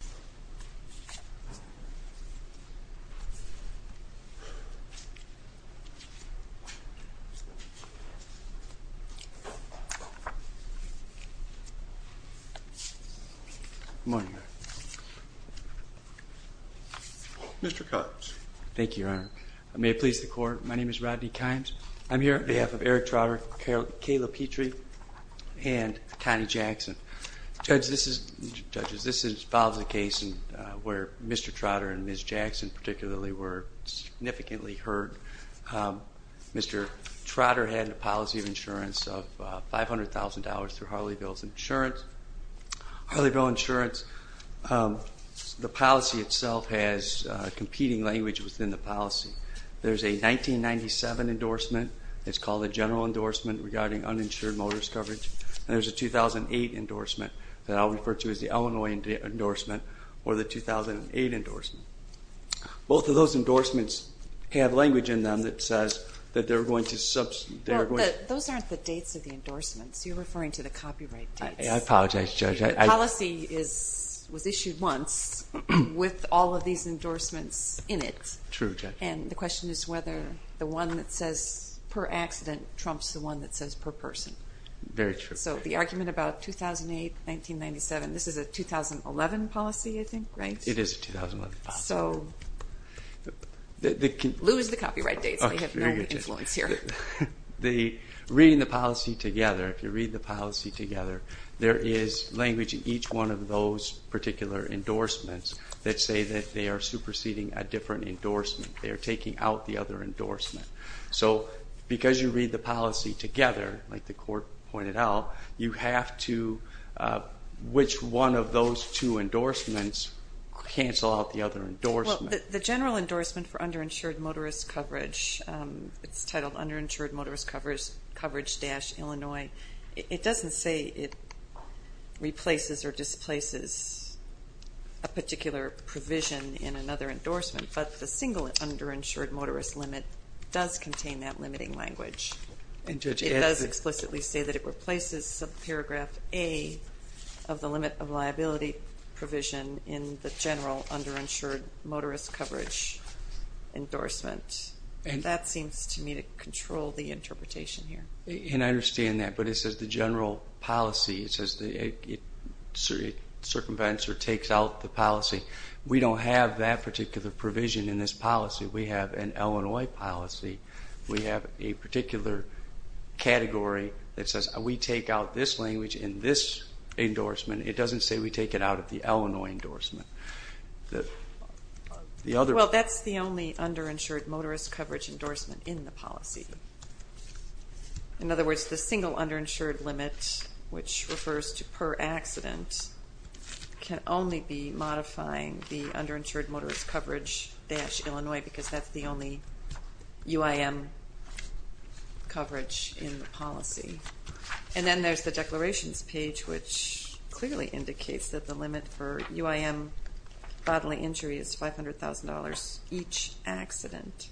Good morning, Your Honor. Mr. Kimes. Thank you, Your Honor. May it please the Court, my name is Rodney Kimes. I'm here on behalf of Eric Trotter, Kayla Petrie, and Connie Case, where Mr. Trotter and Ms. Jackson particularly were significantly heard. Mr. Trotter had a policy of insurance of $500,000 through Harleysville Insurance. Harleysville Insurance, the policy itself has competing language within the policy. There's a 1997 endorsement, it's called a general endorsement regarding uninsured motorist coverage, and there's a 2008 endorsement that I'll refer to as the Illinois endorsement, or the 2008 endorsement. Both of those endorsements have language in them that says that they're going to substitute. Those aren't the dates of the endorsements, you're referring to the copyright dates. I apologize, Judge. The policy was issued once with all of these endorsements in it. True, Judge. And the question is whether the one that says per accident trumps the one that says per person. Very true. So the is a 2011 policy, I think, right? It is a 2011 policy. So, lose the copyright dates, they have no influence here. Reading the policy together, if you read the policy together, there is language in each one of those particular endorsements that say that they are superseding a different endorsement. They are taking out the other endorsement. So because you read the policy together, like the court pointed out, you have to, which one of those two endorsements cancel out the other endorsement? Well, the general endorsement for underinsured motorist coverage, it's titled underinsured motorist coverage-Illinois. It doesn't say it replaces or displaces a particular provision in another endorsement, but the single underinsured motorist limit does contain that limiting language. It does explicitly say that it replaces subparagraph A of the limit of liability provision in the general underinsured motorist coverage endorsement. That seems to me to control the interpretation here. And I understand that, but it says the general policy, it says the circumvents or takes out the policy. We don't have that particular provision in this policy. We have an Illinois policy. We have a particular category that says we take out this language in this endorsement. It doesn't say we take it out of the Illinois endorsement. Well, that's the only underinsured motorist coverage endorsement in the policy. In other words, the single underinsured limit, which refers to per accident, can only be coverage-Illinois, because that's the only UIM coverage in the policy. And then there's the declarations page, which clearly indicates that the limit for UIM bodily injury is $500,000 each accident.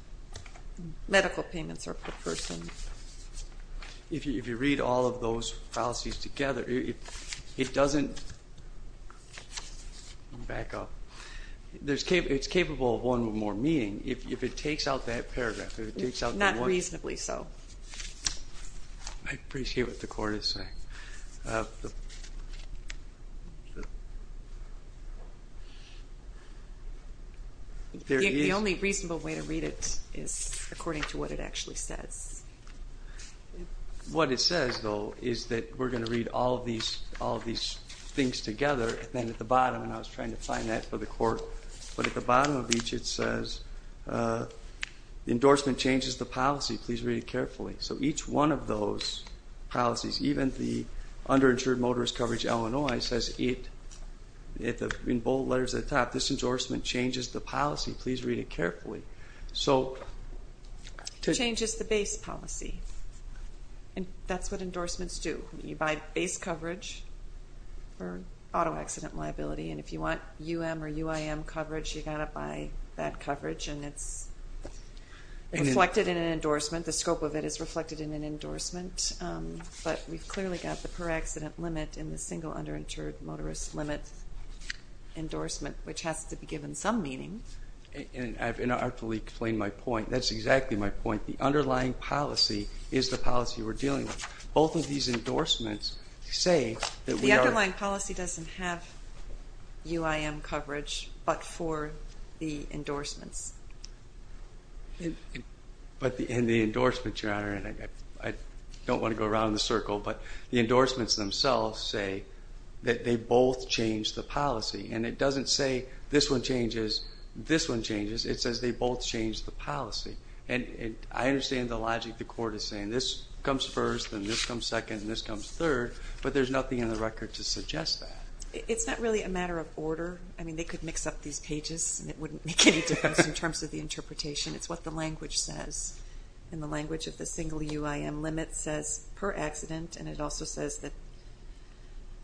Medical payments are per person. If you read all of those policies together, it doesn't back up. It's capable of one more meeting if it takes out that paragraph. Not reasonably so. I appreciate what the court is saying. The only reasonable way to read it is according to what it actually says. What it says, though, is that we're going to read all of these things together. And then at the bottom, and I was trying to find that for the court, but at the bottom of each it says, the endorsement changes the policy. Please read it carefully. So each one of those policies, even the underinsured motorist coverage Illinois, says in bold letters at the top, this endorsement changes the policy. Please read it carefully. It changes the base policy. And that's what endorsements do. You buy base coverage for auto accident liability. And if you want UM or UIM coverage, you've got to buy that coverage. And it's reflected in an endorsement. The scope of it is reflected in an endorsement. But we've clearly got the per accident limit in the single underinsured motorist limit endorsement, which has to be given some meaning. And I've inarticulately explained my point. That's exactly my point. The underlying policy is the policy we're dealing with. Both of these endorsements say that we are... The underlying policy doesn't have UIM coverage, but for the endorsements. But in the endorsements, Your Honor, and I don't want to go around in a circle, but the endorsements themselves say that they both change the policy. And it doesn't say this one changes, this one changes. It says they both change the policy. And I understand the logic the court is saying. This comes first, and this comes second, and this comes third. But there's nothing in the record to suggest that. It's not really a matter of order. I mean, they could mix up these pages and it wouldn't make any difference in terms of the interpretation. It's what the language says. And the language of the single UIM limit says per accident. And it also says that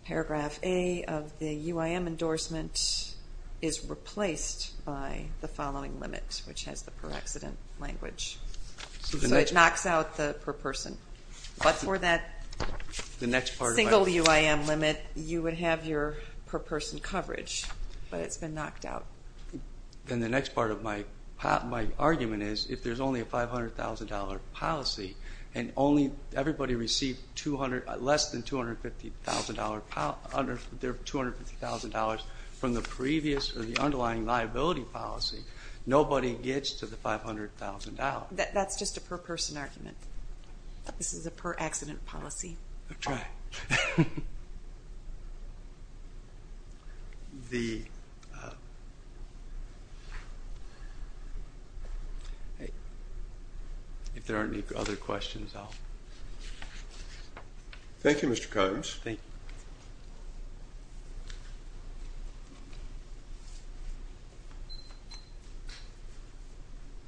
paragraph A of the UIM endorsement is replaced by the following limit, which has the per accident language. So it knocks out the per person. But for that single UIM limit, you would have your per person coverage. But it's been knocked out. And the next part of my argument is, if there's only a $500,000 policy, and only everybody received less than $250,000 from the previous or the underlying liability policy, nobody gets to the $500,000. That's just a per person argument. This is a per accident policy. Okay. If there aren't any other questions, I'll... Thank you, Mr. Coggins.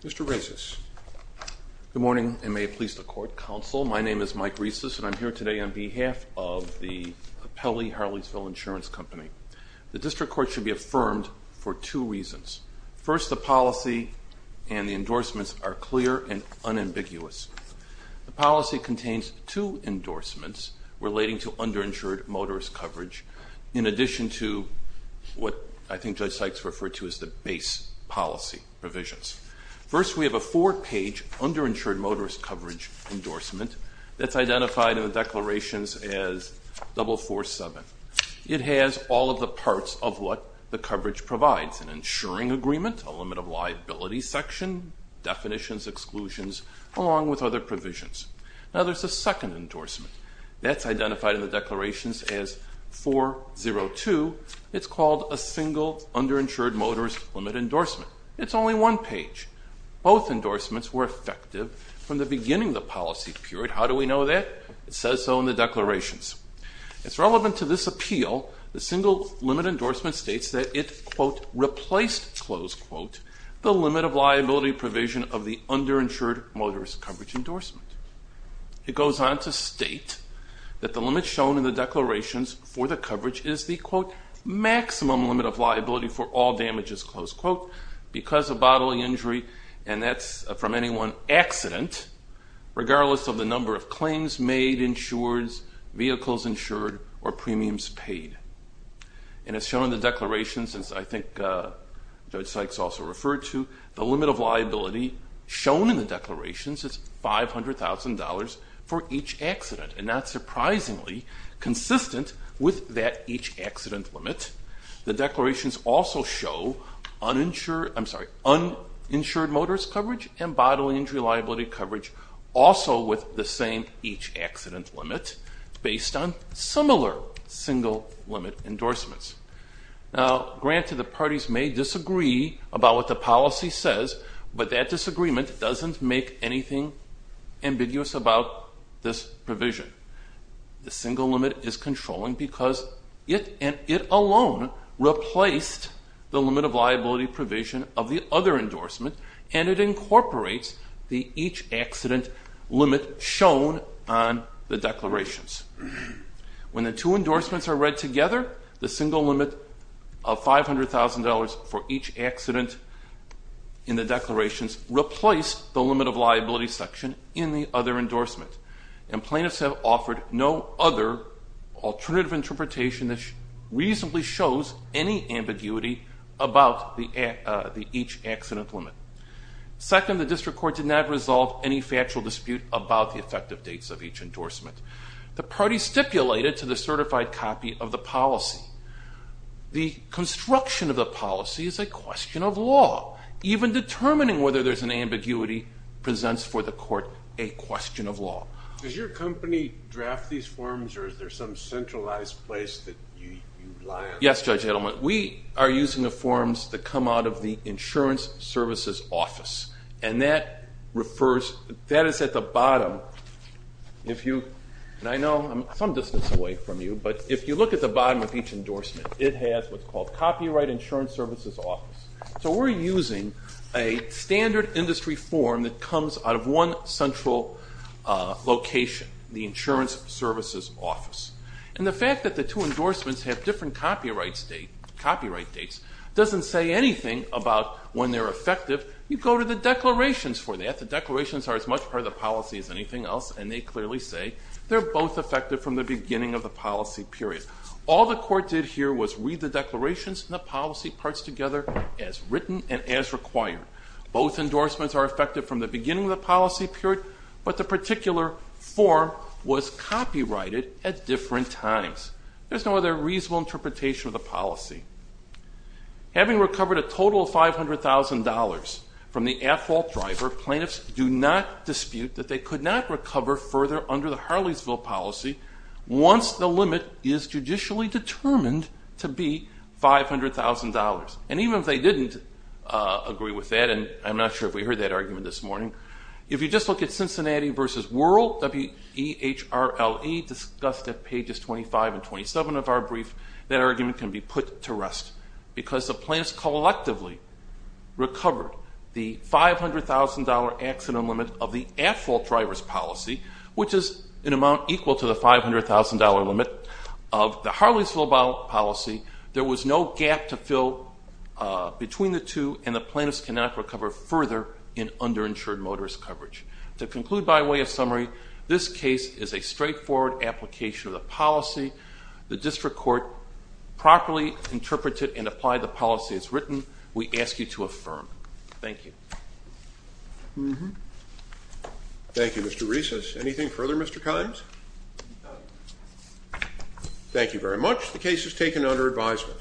Mr. Reces. Good morning, and may it please the Court, Counsel. My name is Mike Reces, and I'm here today on behalf of the Pelley Harleysville Insurance Company. The District Court should be affirmed for two reasons. First, the policy and the endorsements are clear and unambiguous. The policy contains two endorsements relating to underinsured motorist coverage, in addition to what I think Judge Sykes referred to as the base policy provisions. First, we have a four-page underinsured motorist coverage endorsement that's identified in the declarations as 447. It has all of the parts of what the coverage provides, an insuring agreement, a limit of liability section, definitions, exclusions, along with other provisions. Now, there's a second endorsement. That's identified in the declarations as 402. It's called a single underinsured motorist limit endorsement. It's only one page. Both endorsements were effective from the beginning of the policy period. How do we know that? It says so in the declarations. It's relevant to this appeal. The single limit endorsement states that it, quote, replaced, close quote, the limit of liability provision of the underinsured motorist coverage endorsement. It goes on to state that the limit shown in the declarations for the coverage is the, quote, maximum limit of liability for all damages, close quote, because of bodily injury, and that's from any one accident, regardless of the number of claims made, insureds, vehicles insured, or premiums paid. And it's shown in the declarations, as I think Judge Sykes also referred to, the limit of liability shown in the declarations is $500,000 for each accident, and that's surprisingly consistent with that each accident limit. The declarations also show uninsured motorist coverage and bodily injury liability coverage also with the same each accident limit, based on similar single limit endorsements. Now, granted, the parties may disagree about what the policy says, but that disagreement doesn't make anything ambiguous about this provision. The single limit is controlling because it and it alone replaced the limit of liability provision of the other endorsement, and it incorporates the each accident limit shown on the declarations. When the two endorsements are read together, the single limit of $500,000 for each accident in the declarations replaced the limit of liability section in the other endorsement, and plaintiffs have offered no other alternative interpretation that reasonably shows any ambiguity about the each accident limit. Second, the district court did not resolve any factual dispute about the effective dates of each endorsement. The parties stipulated to the certified copy of the policy. The construction of the policy is a question of law. Even determining whether there's an ambiguity presents for the court a question of law. Does your company draft these forms, or is there some centralized place that you rely on? Yes, Judge Edelman. We are using the forms that come out of the Insurance Services Office, and that refers, that is at the bottom. If you, and I know I'm some distance away from you, but if you look at the bottom of each endorsement, it has what's called Copyright Insurance Services Office. So we're using a standard industry form that comes out of one central location, the Insurance Services Office. And the fact that the two endorsements have different copyright dates doesn't say anything about when they're effective. You go to the declarations for that. The declarations are as much part of the policy as anything else, and they clearly say they're both effective from the beginning of the policy period. All the court did here was read the declarations and the policy parts together as written and as required. Both endorsements are effective from the beginning of the policy period, but the particular form was copyrighted at different times. There's no other reasonable interpretation of the policy. Having recovered a total of $500,000 from the at-fault driver, plaintiffs do not dispute that they could not recover further under the Harleysville policy once the limit is judicially determined to be $500,000. And even if they didn't agree with that, and I'm not sure if we heard that argument this morning, if you just look at Cincinnati v. Worrell, W-E-H-R-L-E, discussed at pages 25 and 27 of our brief, that argument can be put to rest because the plaintiffs collectively recovered the $500,000 accident limit of the Harleysville policy. There was no gap to fill between the two, and the plaintiffs cannot recover further in underinsured motorist coverage. To conclude by way of summary, this case is a straightforward application of the policy. The district court properly interpreted and applied the policy as written. We ask you to affirm. Thank you. Thank you, Mr. Rees. Anything further, Mr. Kimes? Thank you very much. The case is taken under advisement.